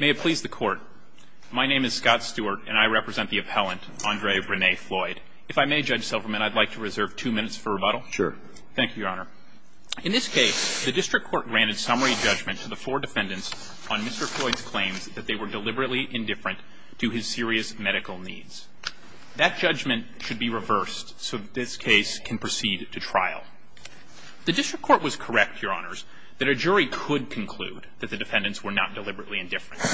May it please the court, my name is Scott Stewart and I represent the appellant, Andre Rene Floyd. If I may, Judge Silverman, I'd like to reserve two minutes for rebuttal. Thank you, Your Honor. In this case, the district court granted summary judgment to the four defendants on Mr. Floyd's claims that they were deliberately indifferent to his serious medical needs. The district court was correct, Your Honors, that a jury could conclude that the defendants were not deliberately indifferent.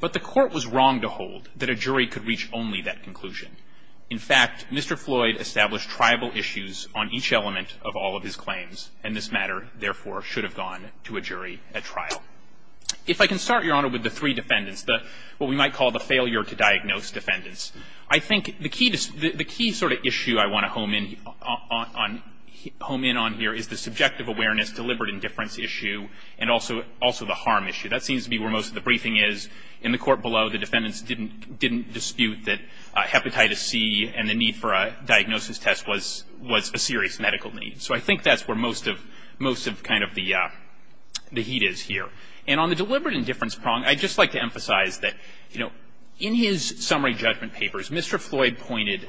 But the court was wrong to hold that a jury could reach only that conclusion. In fact, Mr. Floyd established tribal issues on each element of all of his claims, and this matter, therefore, should have gone to a jury at trial. If I can start, Your Honor, with the three defendants, what we might call the failure to diagnose defendants, I think the key sort of issue I want to home in on here is the subjective awareness, deliberate indifference issue, and also the harm issue. That seems to be where most of the briefing is. In the court below, the defendants didn't dispute that hepatitis C and the need for a diagnosis test was a serious medical need. So I think that's where most of kind of the heat is here. And on the deliberate indifference prong, I'd just like to emphasize that, you know, in his summary judgment papers, Mr. Floyd pointed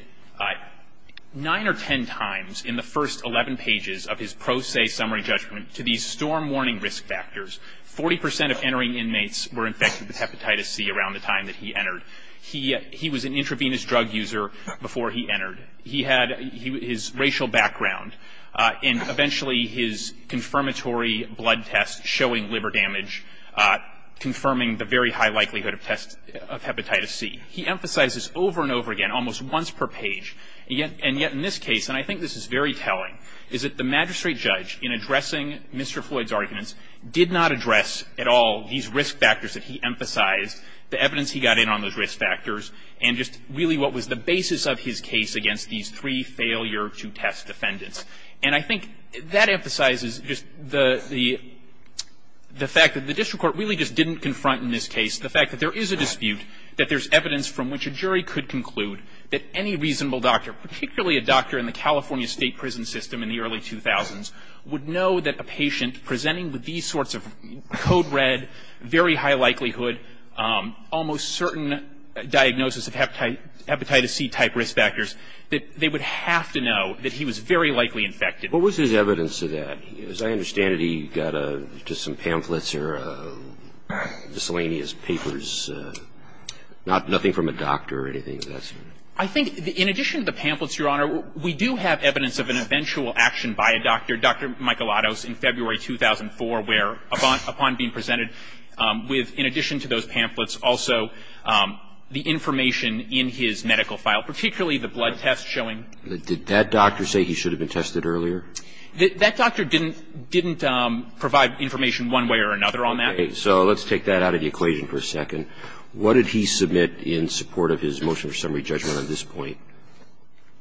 nine or ten times in the first 11 pages of his pro se summary judgment to these storm warning risk factors. Forty percent of entering inmates were infected with hepatitis C around the time that he entered. He was an intravenous drug user before he entered. He had his racial background, and eventually his confirmatory blood test showing liver damage, confirming the very high likelihood of hepatitis C. He emphasizes over and over again, almost once per page, and yet in this case, and I think this is very telling, is that the magistrate judge, in addressing Mr. Floyd's arguments, did not address at all these risk factors that he emphasized, the evidence he got in on those risk factors, and just really what was the basis of his case against these three failure to test defendants. And I think that emphasizes just the fact that the district court really just didn't confront in this case the fact that there is a dispute, that there's evidence from which a jury could conclude that any reasonable doctor, particularly a doctor in the California state prison system in the early 2000s, would know that a patient presenting with these sorts of code red, very high likelihood, almost certain diagnosis of hepatitis C-type risk factors, that they would have to know that he was very likely infected. What was his evidence of that? As I understand it, he got just some pamphlets or miscellaneous papers, nothing from a doctor or anything. I think in addition to the pamphlets, Your Honor, we do have evidence of an eventual action by a doctor, Dr. Michelottos, in February 2004, where upon being presented with, in addition to those pamphlets, also the information in his medical file, particularly the blood test showing. Did that doctor say he should have been tested earlier? That doctor didn't provide information one way or another on that. Okay. So let's take that out of the equation for a second. What did he submit in support of his motion for summary judgment on this point,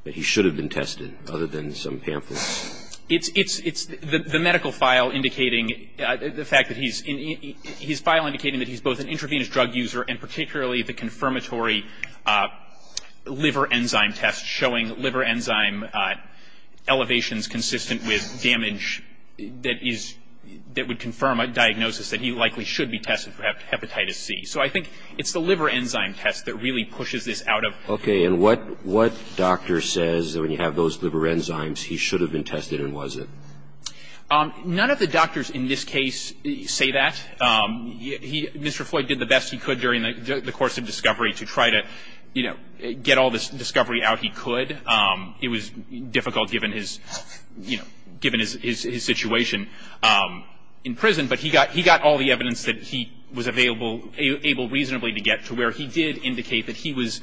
that he should have been tested, other than some pamphlets? It's the medical file indicating, the fact that he's, his file indicating that he's both an intravenous drug user and particularly the confirmatory liver enzyme test showing liver enzyme elevations consistent with damage that is, that would confirm a diagnosis that he likely should be tested for hepatitis C. So I think it's the liver enzyme test that really pushes this out of. Okay. And what doctor says that when you have those liver enzymes he should have been tested and wasn't? None of the doctors in this case say that. Mr. Floyd did the best he could during the course of discovery to try to, you know, get all this discovery out he could. It was difficult given his, you know, given his situation in prison. But he got all the evidence that he was available, able reasonably to get to where he did indicate that he was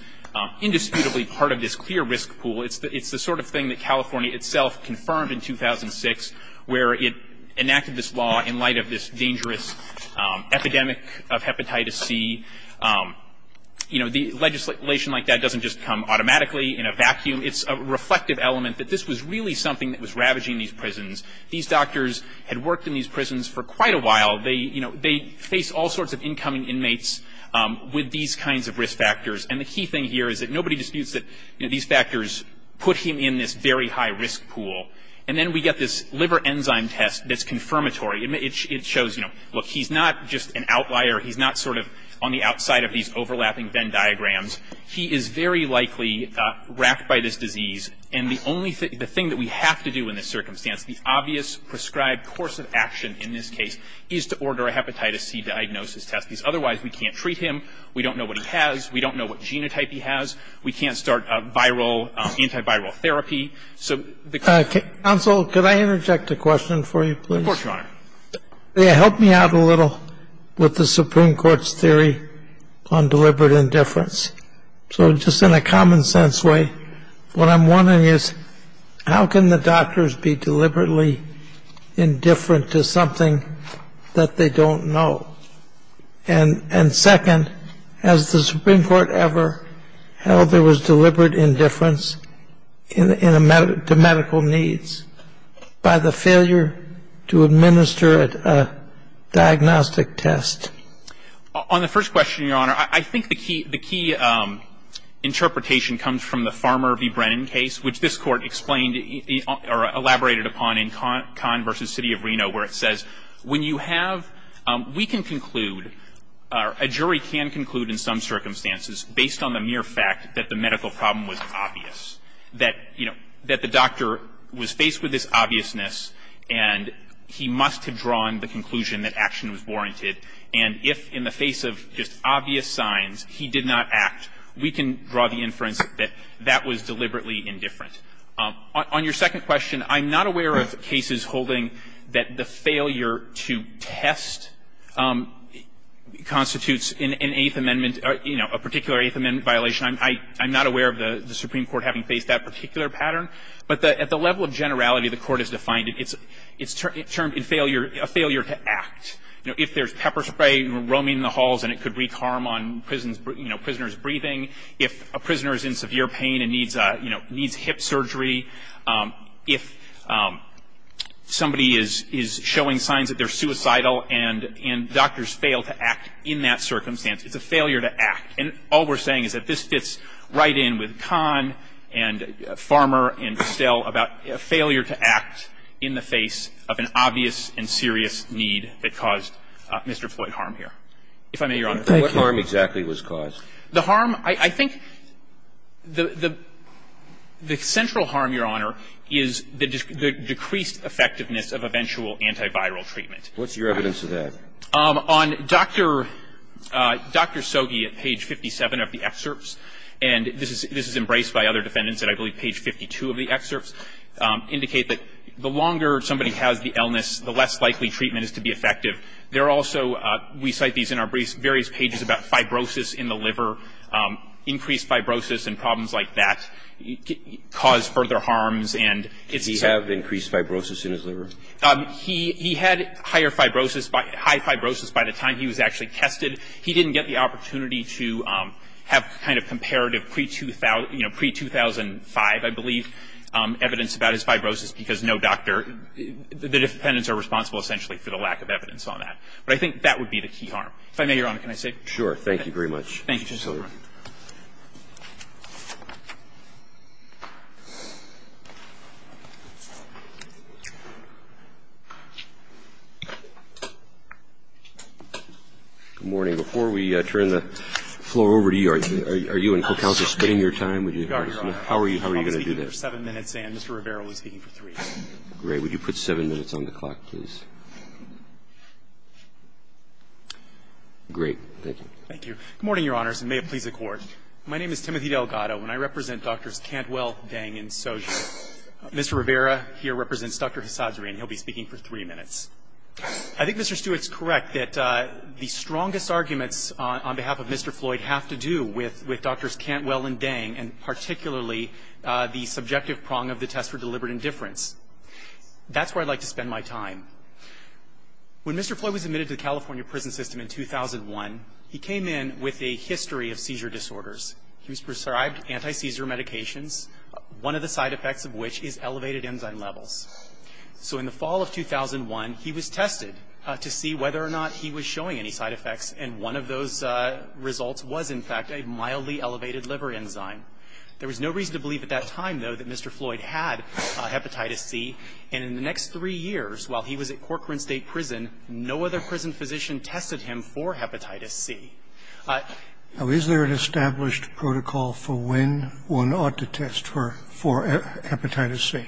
indisputably part of this clear risk pool. It's the sort of thing that California itself confirmed in 2006, where it enacted this law in light of this dangerous epidemic of hepatitis C. You know, the legislation like that doesn't just come automatically in a vacuum. It's a reflective element that this was really something that was ravaging these prisons. These doctors had worked in these prisons for quite a while. They, you know, they faced all sorts of incoming inmates with these kinds of risk factors. And the key thing here is that nobody disputes that, you know, these factors put him in this very high risk pool. And then we get this liver enzyme test that's confirmatory. It shows, you know, look, he's not just an outlier. He's not sort of on the outside of these overlapping Venn diagrams. He is very likely wracked by this disease. And the only thing the thing that we have to do in this circumstance, the obvious prescribed course of action in this case, is to order a hepatitis C diagnosis test. Because otherwise we can't treat him. We don't know what he has. We don't know what genotype he has. We can't start a viral, antiviral therapy. So the key thing is to do that. Counsel, could I interject a question for you, please? Of course, Your Honor. Help me out a little with the Supreme Court's theory on deliberate indifference. So just in a common-sense way, what I'm wondering is, how can the doctors be deliberately indifferent to something that they don't know? And second, has the Supreme Court ever held there was deliberate indifference to medical needs by the failure to administer a diagnostic test? On the first question, Your Honor, I think the key interpretation comes from the Farmer v. Brennan case, which this Court explained or elaborated upon in Kahn v. City of Reno, where it says when you have we can conclude or a jury can conclude in some circumstances based on the mere fact that the medical problem was obvious, that, you know, that the doctor was faced with this obviousness and he must have drawn the conclusion that action was warranted. And if in the face of just obvious signs he did not act, we can draw the inference that that was deliberately indifferent. On your second question, I'm not aware of cases holding that the failure to test constitutes an Eighth Amendment, you know, a particular Eighth Amendment violation. I'm not aware of the Supreme Court having faced that particular pattern. But at the level of generality the Court has defined it, it's termed in failure to act. You know, if there's pepper spray roaming the halls and it could wreak harm on prisoners' breathing, if a prisoner is in severe pain and needs, you know, needs hip surgery, if somebody is showing signs that they're suicidal and doctors fail to act in that circumstance, it's a failure to act. And all we're saying is that this fits right in with Kahn and Farmer and Still about failure to act in the face of an obvious and serious need that caused Mr. Floyd harm here. If I may, Your Honor. Thank you. What harm exactly was caused? The harm, I think the central harm, Your Honor, is the decreased effectiveness of eventual antiviral treatment. What's your evidence of that? On Dr. Soghi at page 57 of the excerpts, and this is embraced by other defendants at, I believe, page 52 of the excerpts, indicate that the longer somebody has the illness, the less likely treatment is to be effective. There are also, we cite these in our various pages about fibrosis in the liver. Increased fibrosis and problems like that cause further harms. Did he have increased fibrosis in his liver? He had higher fibrosis, high fibrosis by the time he was actually tested. He didn't get the opportunity to have kind of comparative pre-2005, I believe, evidence about his fibrosis because no doctor, the defendants are responsible essentially for the lack of evidence on that. But I think that would be the key harm. If I may, Your Honor, can I say? Sure. Thank you very much. Thank you, Justice Sotomayor. Good morning. Before we turn the floor over to you, are you and counsel spending your time? How are you going to do that? I was speaking for 7 minutes and Mr. Rivera was speaking for 3. Great. Would you put 7 minutes on the clock, please? Great. Thank you. Thank you. Good morning, Your Honors, and may it please the Court. My name is Timothy Delgado, and I represent Drs. Cantwell, Dang, and Soja. Mr. Rivera here represents Dr. Hasadzri, and he'll be speaking for 3 minutes. I think Mr. Stewart's correct that the strongest arguments on behalf of Mr. Floyd have to do with Drs. Cantwell and Dang and particularly the subjective prong of the test for deliberate indifference. That's where I'd like to spend my time. When Mr. Floyd was admitted to the California prison system in 2001, he came in with a history of seizure disorders. He was prescribed anti-seizure medications, one of the side effects of which is elevated enzyme levels. So in the fall of 2001, he was tested to see whether or not he was showing any side effects, and one of those results was, in fact, a mildly elevated liver enzyme. There was no reason to believe at that time, though, that Mr. Floyd had hepatitis C, and in the next three years, while he was at Corcoran State Prison, no other prison physician tested him for hepatitis C. Now, is there an established protocol for when one ought to test for hepatitis C?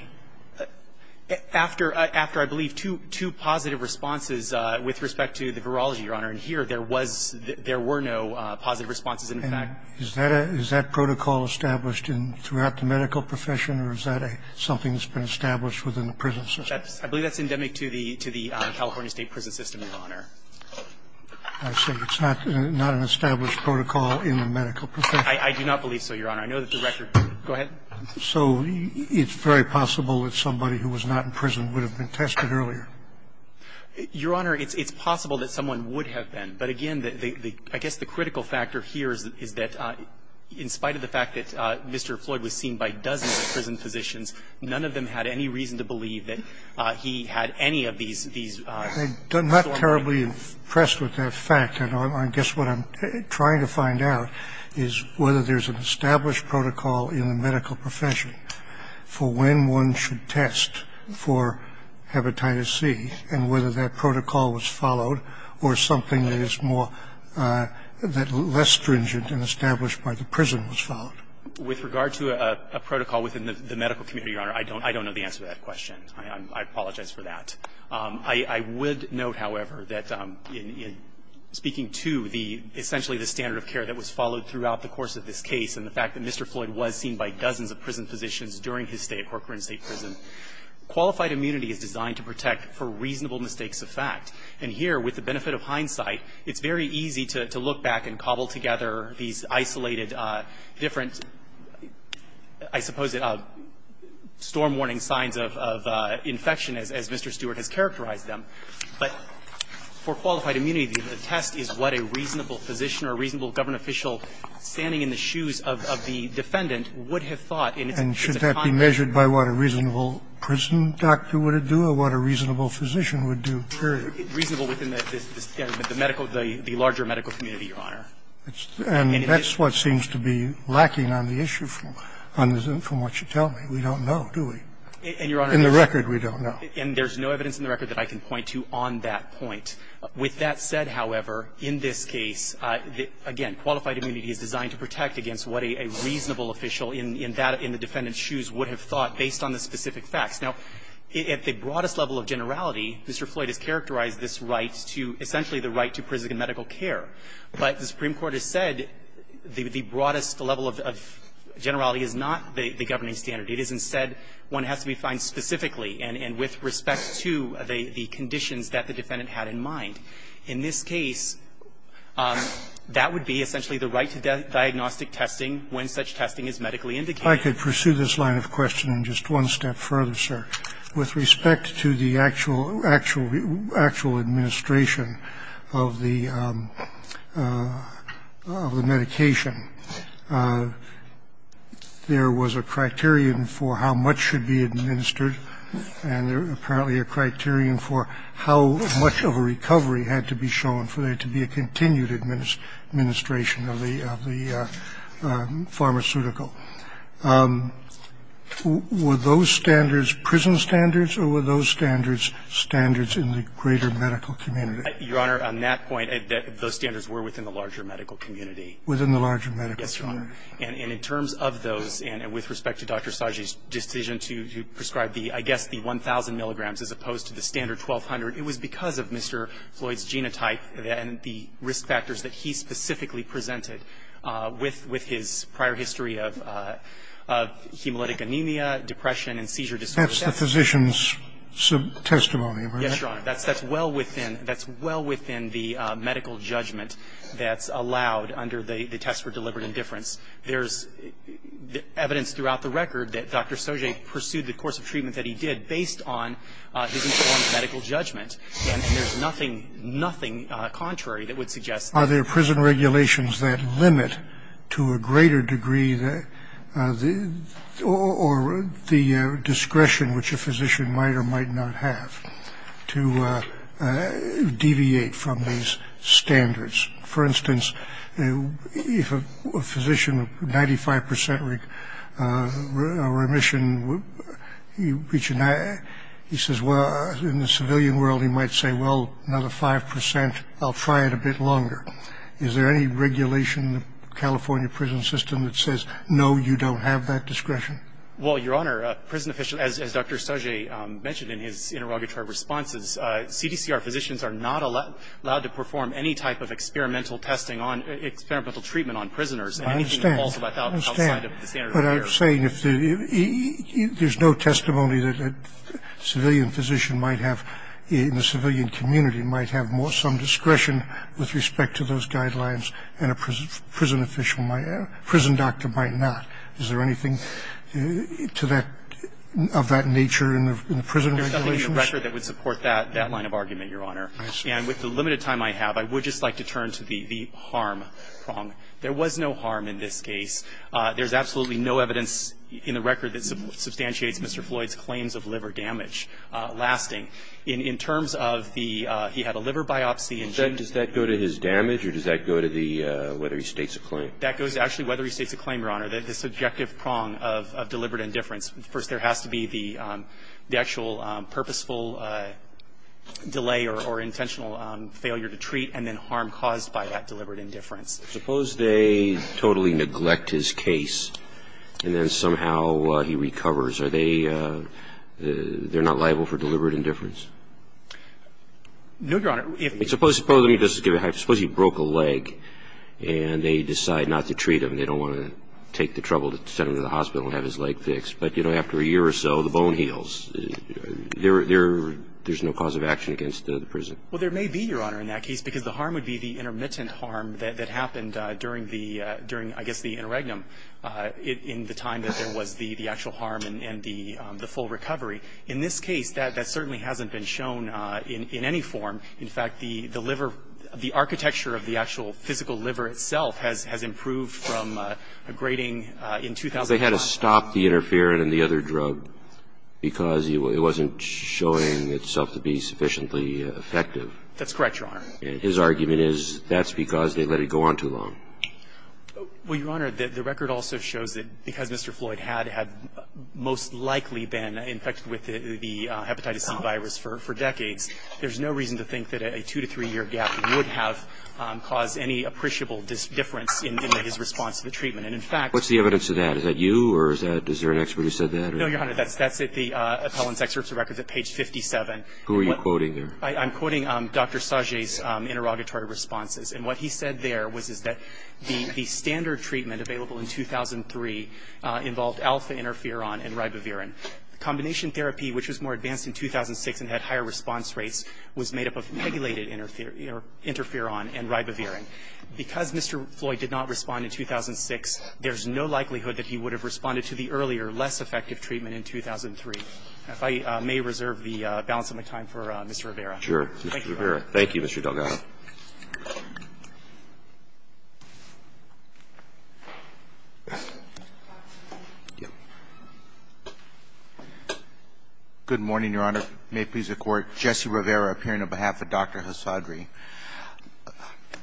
After, I believe, two positive responses with respect to the virology, Your Honor, and here there was no positive responses, in fact. And is that protocol established throughout the medical profession, or is that something that's been established within the prison system? I believe that's endemic to the California State Prison System, Your Honor. I see. It's not an established protocol in the medical profession? I do not believe so, Your Honor. I know that the record go ahead. So it's very possible that somebody who was not in prison would have been tested earlier? Your Honor, it's possible that someone would have been. But again, I guess the critical factor here is that in spite of the fact that Mr. Corcoran was not in prison, none of the other prison physicians, none of them had any reason to believe that he had any of these, these. I'm not terribly impressed with that fact. I guess what I'm trying to find out is whether there's an established protocol in the medical profession for when one should test for hepatitis C and whether that protocol was followed or something that is more, that is less stringent and established by the prison was followed. With regard to a protocol within the medical community, Your Honor, I don't know the answer to that question. I apologize for that. I would note, however, that in speaking to the, essentially the standard of care that was followed throughout the course of this case and the fact that Mr. Floyd was seen by dozens of prison physicians during his stay at Corcoran State Prison, qualified immunity is designed to protect for reasonable mistakes of fact. And here, with the benefit of hindsight, it's very easy to look back and cobble together these isolated different, I suppose, storm-warning signs of infection as Mr. Stewart has characterized them. But for qualified immunity, the test is what a reasonable physician or a reasonable government official standing in the shoes of the defendant would have thought in its time. And should that be measured by what a reasonable prison doctor would do or what a reasonable physician would do, period. Reasonable within the medical, the larger medical community, Your Honor. And that's what seems to be lacking on the issue from what you tell me. We don't know, do we? In the record, we don't know. And there's no evidence in the record that I can point to on that point. With that said, however, in this case, again, qualified immunity is designed to protect against what a reasonable official in the defendant's shoes would have thought based on the specific facts. Now, at the broadest level of generality, Mr. Floyd has characterized this right to, essentially, the right to prison and medical care. But the Supreme Court has said the broadest level of generality is not the governing standard. It is, instead, one has to be defined specifically and with respect to the conditions that the defendant had in mind. In this case, that would be essentially the right to diagnostic testing when such testing is medically indicated. I could pursue this line of questioning just one step further, sir. With respect to the actual administration of the medication, there was a criterion for how much should be administered, and apparently a criterion for how much of a recovery had to be shown for there to be a continued administration of the pharmaceutical. Were those standards prison standards, or were those standards standards in the greater medical community? Your Honor, on that point, those standards were within the larger medical community. Within the larger medical community. Yes, Your Honor. And in terms of those, and with respect to Dr. Sajji's decision to prescribe the, I guess, the 1,000 milligrams as opposed to the standard 1,200, it was because of Mr. Floyd's genotype and the risk factors that he specifically presented with his prior history of hemolytic anemia, depression, and seizure disorder. That's the physician's testimony, right? Yes, Your Honor. That's well within the medical judgment that's allowed under the test for deliberate indifference. There's evidence throughout the record that Dr. Sajji pursued the course of treatment that he did based on his informed medical judgment, and there's nothing, nothing contrary that would suggest that. Are there prison regulations that limit, to a greater degree, or the discretion which a physician might or might not have to deviate from these standards? For instance, if a physician, 95% remission, he says, well, in the civilian world, he might say, well, another 5%, I'll try it a bit longer. Is there any regulation in the California prison system that says, no, you don't have that discretion? Well, Your Honor, prison officials, as Dr. Sajji mentioned in his interrogatory responses, CDCR physicians are not allowed to perform any type of experimental testing on, experimental treatment on prisoners. I understand. Anything that falls outside of the standard of care. But I'm saying if there's no testimony that a civilian physician might have, in the civilian community, might have more some discretion with respect to those guidelines and a prison official might, a prison doctor might not. Is there anything to that, of that nature in the prison regulations? There's nothing in the record that would support that line of argument, Your Honor. And with the limited time I have, I would just like to turn to the harm prong. There was no harm in this case. There's absolutely no evidence in the record that substantiates Mr. Floyd's claims of liver damage lasting. In terms of the, he had a liver biopsy and he. And does that go to his damage or does that go to the, whether he states a claim? That goes to actually whether he states a claim, Your Honor, the subjective prong of deliberate indifference. First, there has to be the actual purposeful delay or intentional failure to treat and then harm caused by that deliberate indifference. Suppose they totally neglect his case and then somehow he recovers. Are they, they're not liable for deliberate indifference? No, Your Honor. Suppose he broke a leg and they decide not to treat him. They don't want to take the trouble to send him to the hospital and have his leg fixed. But, you know, after a year or so, the bone heals. There's no cause of action against the prison. Well, there may be, Your Honor, in that case, because the harm would be the intermittent harm that happened during the, during, I guess, the interregnum in the time that there was the actual harm and the full recovery. In this case, that certainly hasn't been shown in any form. In fact, the liver, the architecture of the actual physical liver itself has improved from a grating in 2005. But they had to stop the interferon and the other drug because it wasn't showing itself to be sufficiently effective. That's correct, Your Honor. His argument is that's because they let it go on too long. Well, Your Honor, the record also shows that because Mr. Floyd had most likely been infected with the hepatitis C virus for decades, there's no reason to think that a two- to three-year gap would have caused any appreciable difference in his response to the treatment. And, in fact, What's the evidence of that? Is that you or is that, is there an expert who said that? No, Your Honor, that's at the appellant's excerpts of records at page 57. Who are you quoting there? I'm quoting Dr. Sajay's interrogatory responses. And what he said there was that the standard treatment available in 2003 involved alpha-interferon and ribavirin. The combination therapy, which was more advanced in 2006 and had higher response rates, was made up of regulated interferon and ribavirin. Because Mr. Floyd did not respond in 2006, there's no likelihood that he would have responded to the earlier, less effective treatment in 2003. If I may reserve the balance of my time for Mr. Rivera. Sure. Thank you, Mr. Delgado. Thank you, Mr. Delgado. Good morning, Your Honor. May it please the Court. Jesse Rivera, appearing on behalf of Dr. Hassadri. A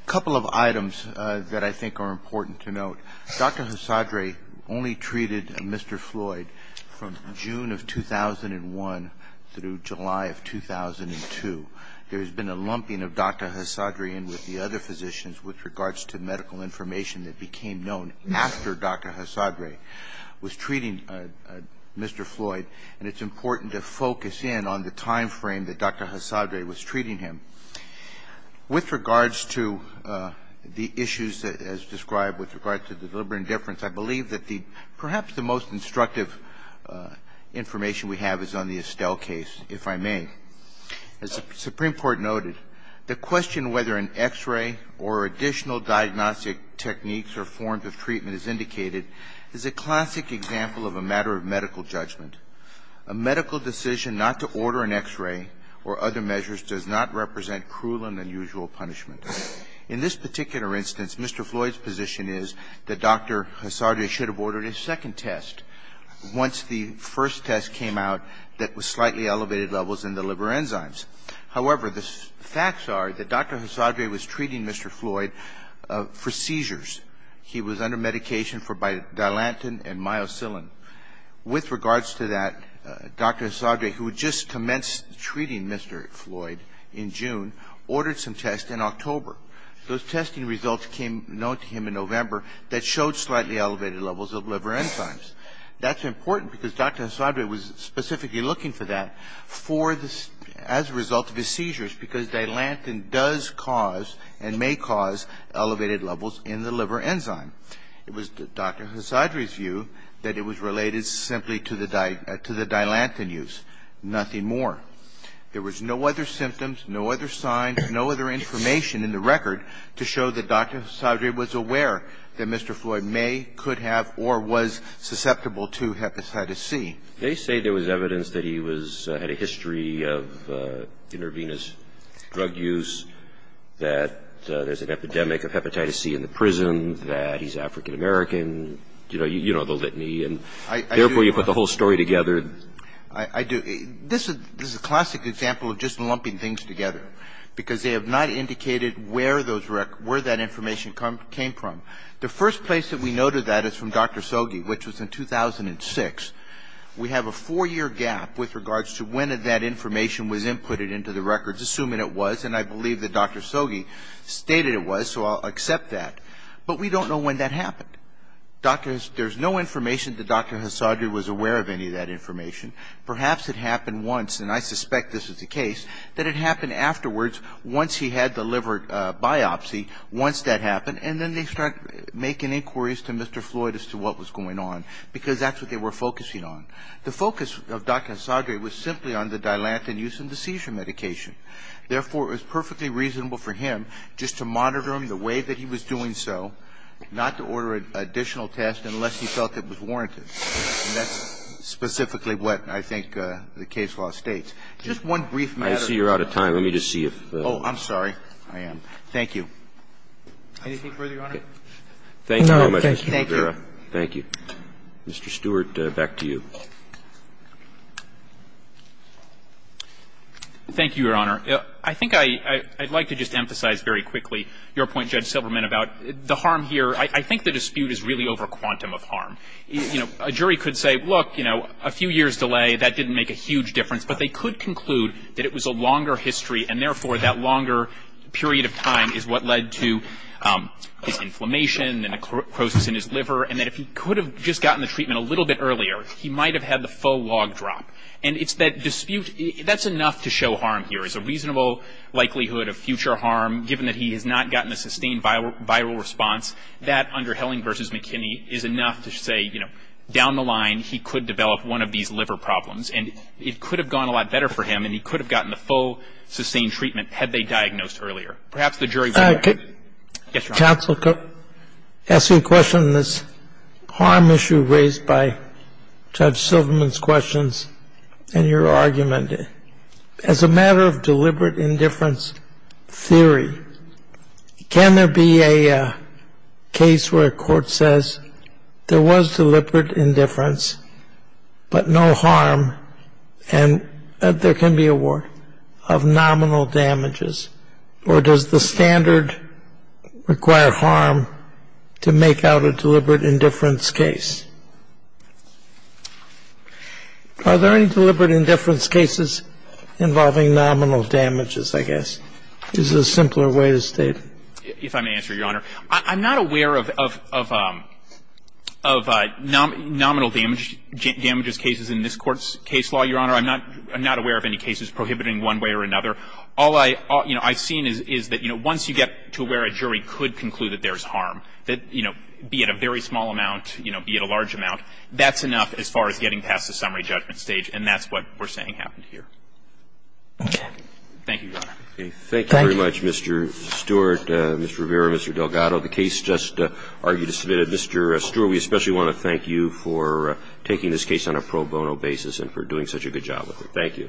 couple of items that I think are important to note. Dr. Hassadri only treated Mr. Floyd from June of 2001 through July of 2002. There has been a lumping of Dr. Hassadri in with the other physicians with regards to medical information that became known after Dr. Hassadri was treating Mr. Floyd, and it's important to focus in on the time frame that Dr. Hassadri was treating him. With regards to the issues as described with regard to the deliberate indifference, I believe that the perhaps the most instructive information we have is on the Estelle case, if I may. As the Supreme Court noted, the question whether an X-ray or additional diagnostic techniques or forms of treatment is indicated is a classic example of a matter of medical judgment. A medical decision not to order an X-ray or other measures does not represent cruel and unusual punishment. In this particular instance, Mr. Floyd's position is that Dr. Hassadri should have ordered a second test once the first test came out that was slightly elevated levels in the liver enzymes. However, the facts are that Dr. Hassadri was treating Mr. Floyd for seizures. He was under medication for bilantin and myosilin. With regards to that, Dr. Hassadri, who had just commenced treating Mr. Floyd in June ordered some tests in October. Those testing results came known to him in November that showed slightly elevated levels of liver enzymes. That's important because Dr. Hassadri was specifically looking for that as a result of his seizures because bilantin does cause and may cause elevated levels in the liver enzyme. It was Dr. Hassadri's view that it was related simply to the bilantin use, nothing more. There was no other symptoms, no other signs, no other information in the record to show that Dr. Hassadri was aware that Mr. Floyd may, could have, or was susceptible to hepatitis C. They say there was evidence that he had a history of intravenous drug use, that there's an epidemic of hepatitis C in the prison, that he's African American, you know, the litany, and therefore you put the whole story together. I do. This is a classic example of just lumping things together because they have not indicated where those records, where that information came from. The first place that we noted that is from Dr. Soghi, which was in 2006. We have a four-year gap with regards to when that information was inputted into the records, assuming it was, and I believe that Dr. Soghi stated it was, so I'll accept that. But we don't know when that happened. There's no information that Dr. Hassadri was aware of any of that information. Perhaps it happened once, and I suspect this is the case, that it happened afterwards once he had the liver biopsy, once that happened, and then they start making inquiries to Mr. Floyd as to what was going on because that's what they were focusing on. The focus of Dr. Hassadri was simply on the Dilantin use of the seizure medication. Therefore, it was perfectly reasonable for him just to monitor him the way that he was doing so, not to order an additional test unless he felt it was warranted. And that's specifically what I think the case law states. Just one brief matter. Roberts. I see you're out of time. Let me just see if the ---- Oh, I'm sorry. I am. Thank you. Anything further, Your Honor? No. Thank you. Thank you. Mr. Stewart, back to you. Thank you, Your Honor. I think I'd like to just emphasize very quickly your point, Judge Silverman, about the harm here. I think the dispute is really over quantum of harm. You know, a jury could say, look, you know, a few years delay, that didn't make a huge difference, but they could conclude that it was a longer history and, therefore, that longer period of time is what led to his inflammation and a crosis in his liver and that if he could have just gotten the treatment a little bit earlier, he might have had the full log drop. And it's that dispute, that's enough to show harm here is a reasonable likelihood of future harm, given that he has not gotten a sustained viral response, that under Helling v. McKinney is enough to say, you know, down the line, he could develop one of these liver problems. And it could have gone a lot better for him, and he could have gotten the full sustained treatment had they diagnosed earlier. Perhaps the jury would agree. Yes, Your Honor. Counsel, to ask you a question on this harm issue raised by Judge Silverman's questions and your argument, as a matter of deliberate indifference theory, can there be a case where a court says there was deliberate indifference, but no harm, and there can be a war, of nominal damages? Or does the standard require harm to make out a deliberate indifference case? Are there any deliberate indifference cases involving nominal damages, I guess, is the simpler way to state? If I may answer, Your Honor. I'm not aware of nominal damages cases in this Court's case law, Your Honor. I'm not aware of any cases prohibiting one way or another. All I've seen is that, you know, once you get to where a jury could conclude that there's harm, that, you know, be it a very small amount, you know, be it a large amount, that's enough as far as getting past the summary judgment stage, and that's what we're saying happened here. Thank you, Your Honor. Thank you very much, Mr. Stewart, Mr. Rivera, Mr. Delgado. The case just argued is submitted. Mr. Stewart, we especially want to thank you for taking this case on a pro bono basis and for doing such a good job with it. Thank you.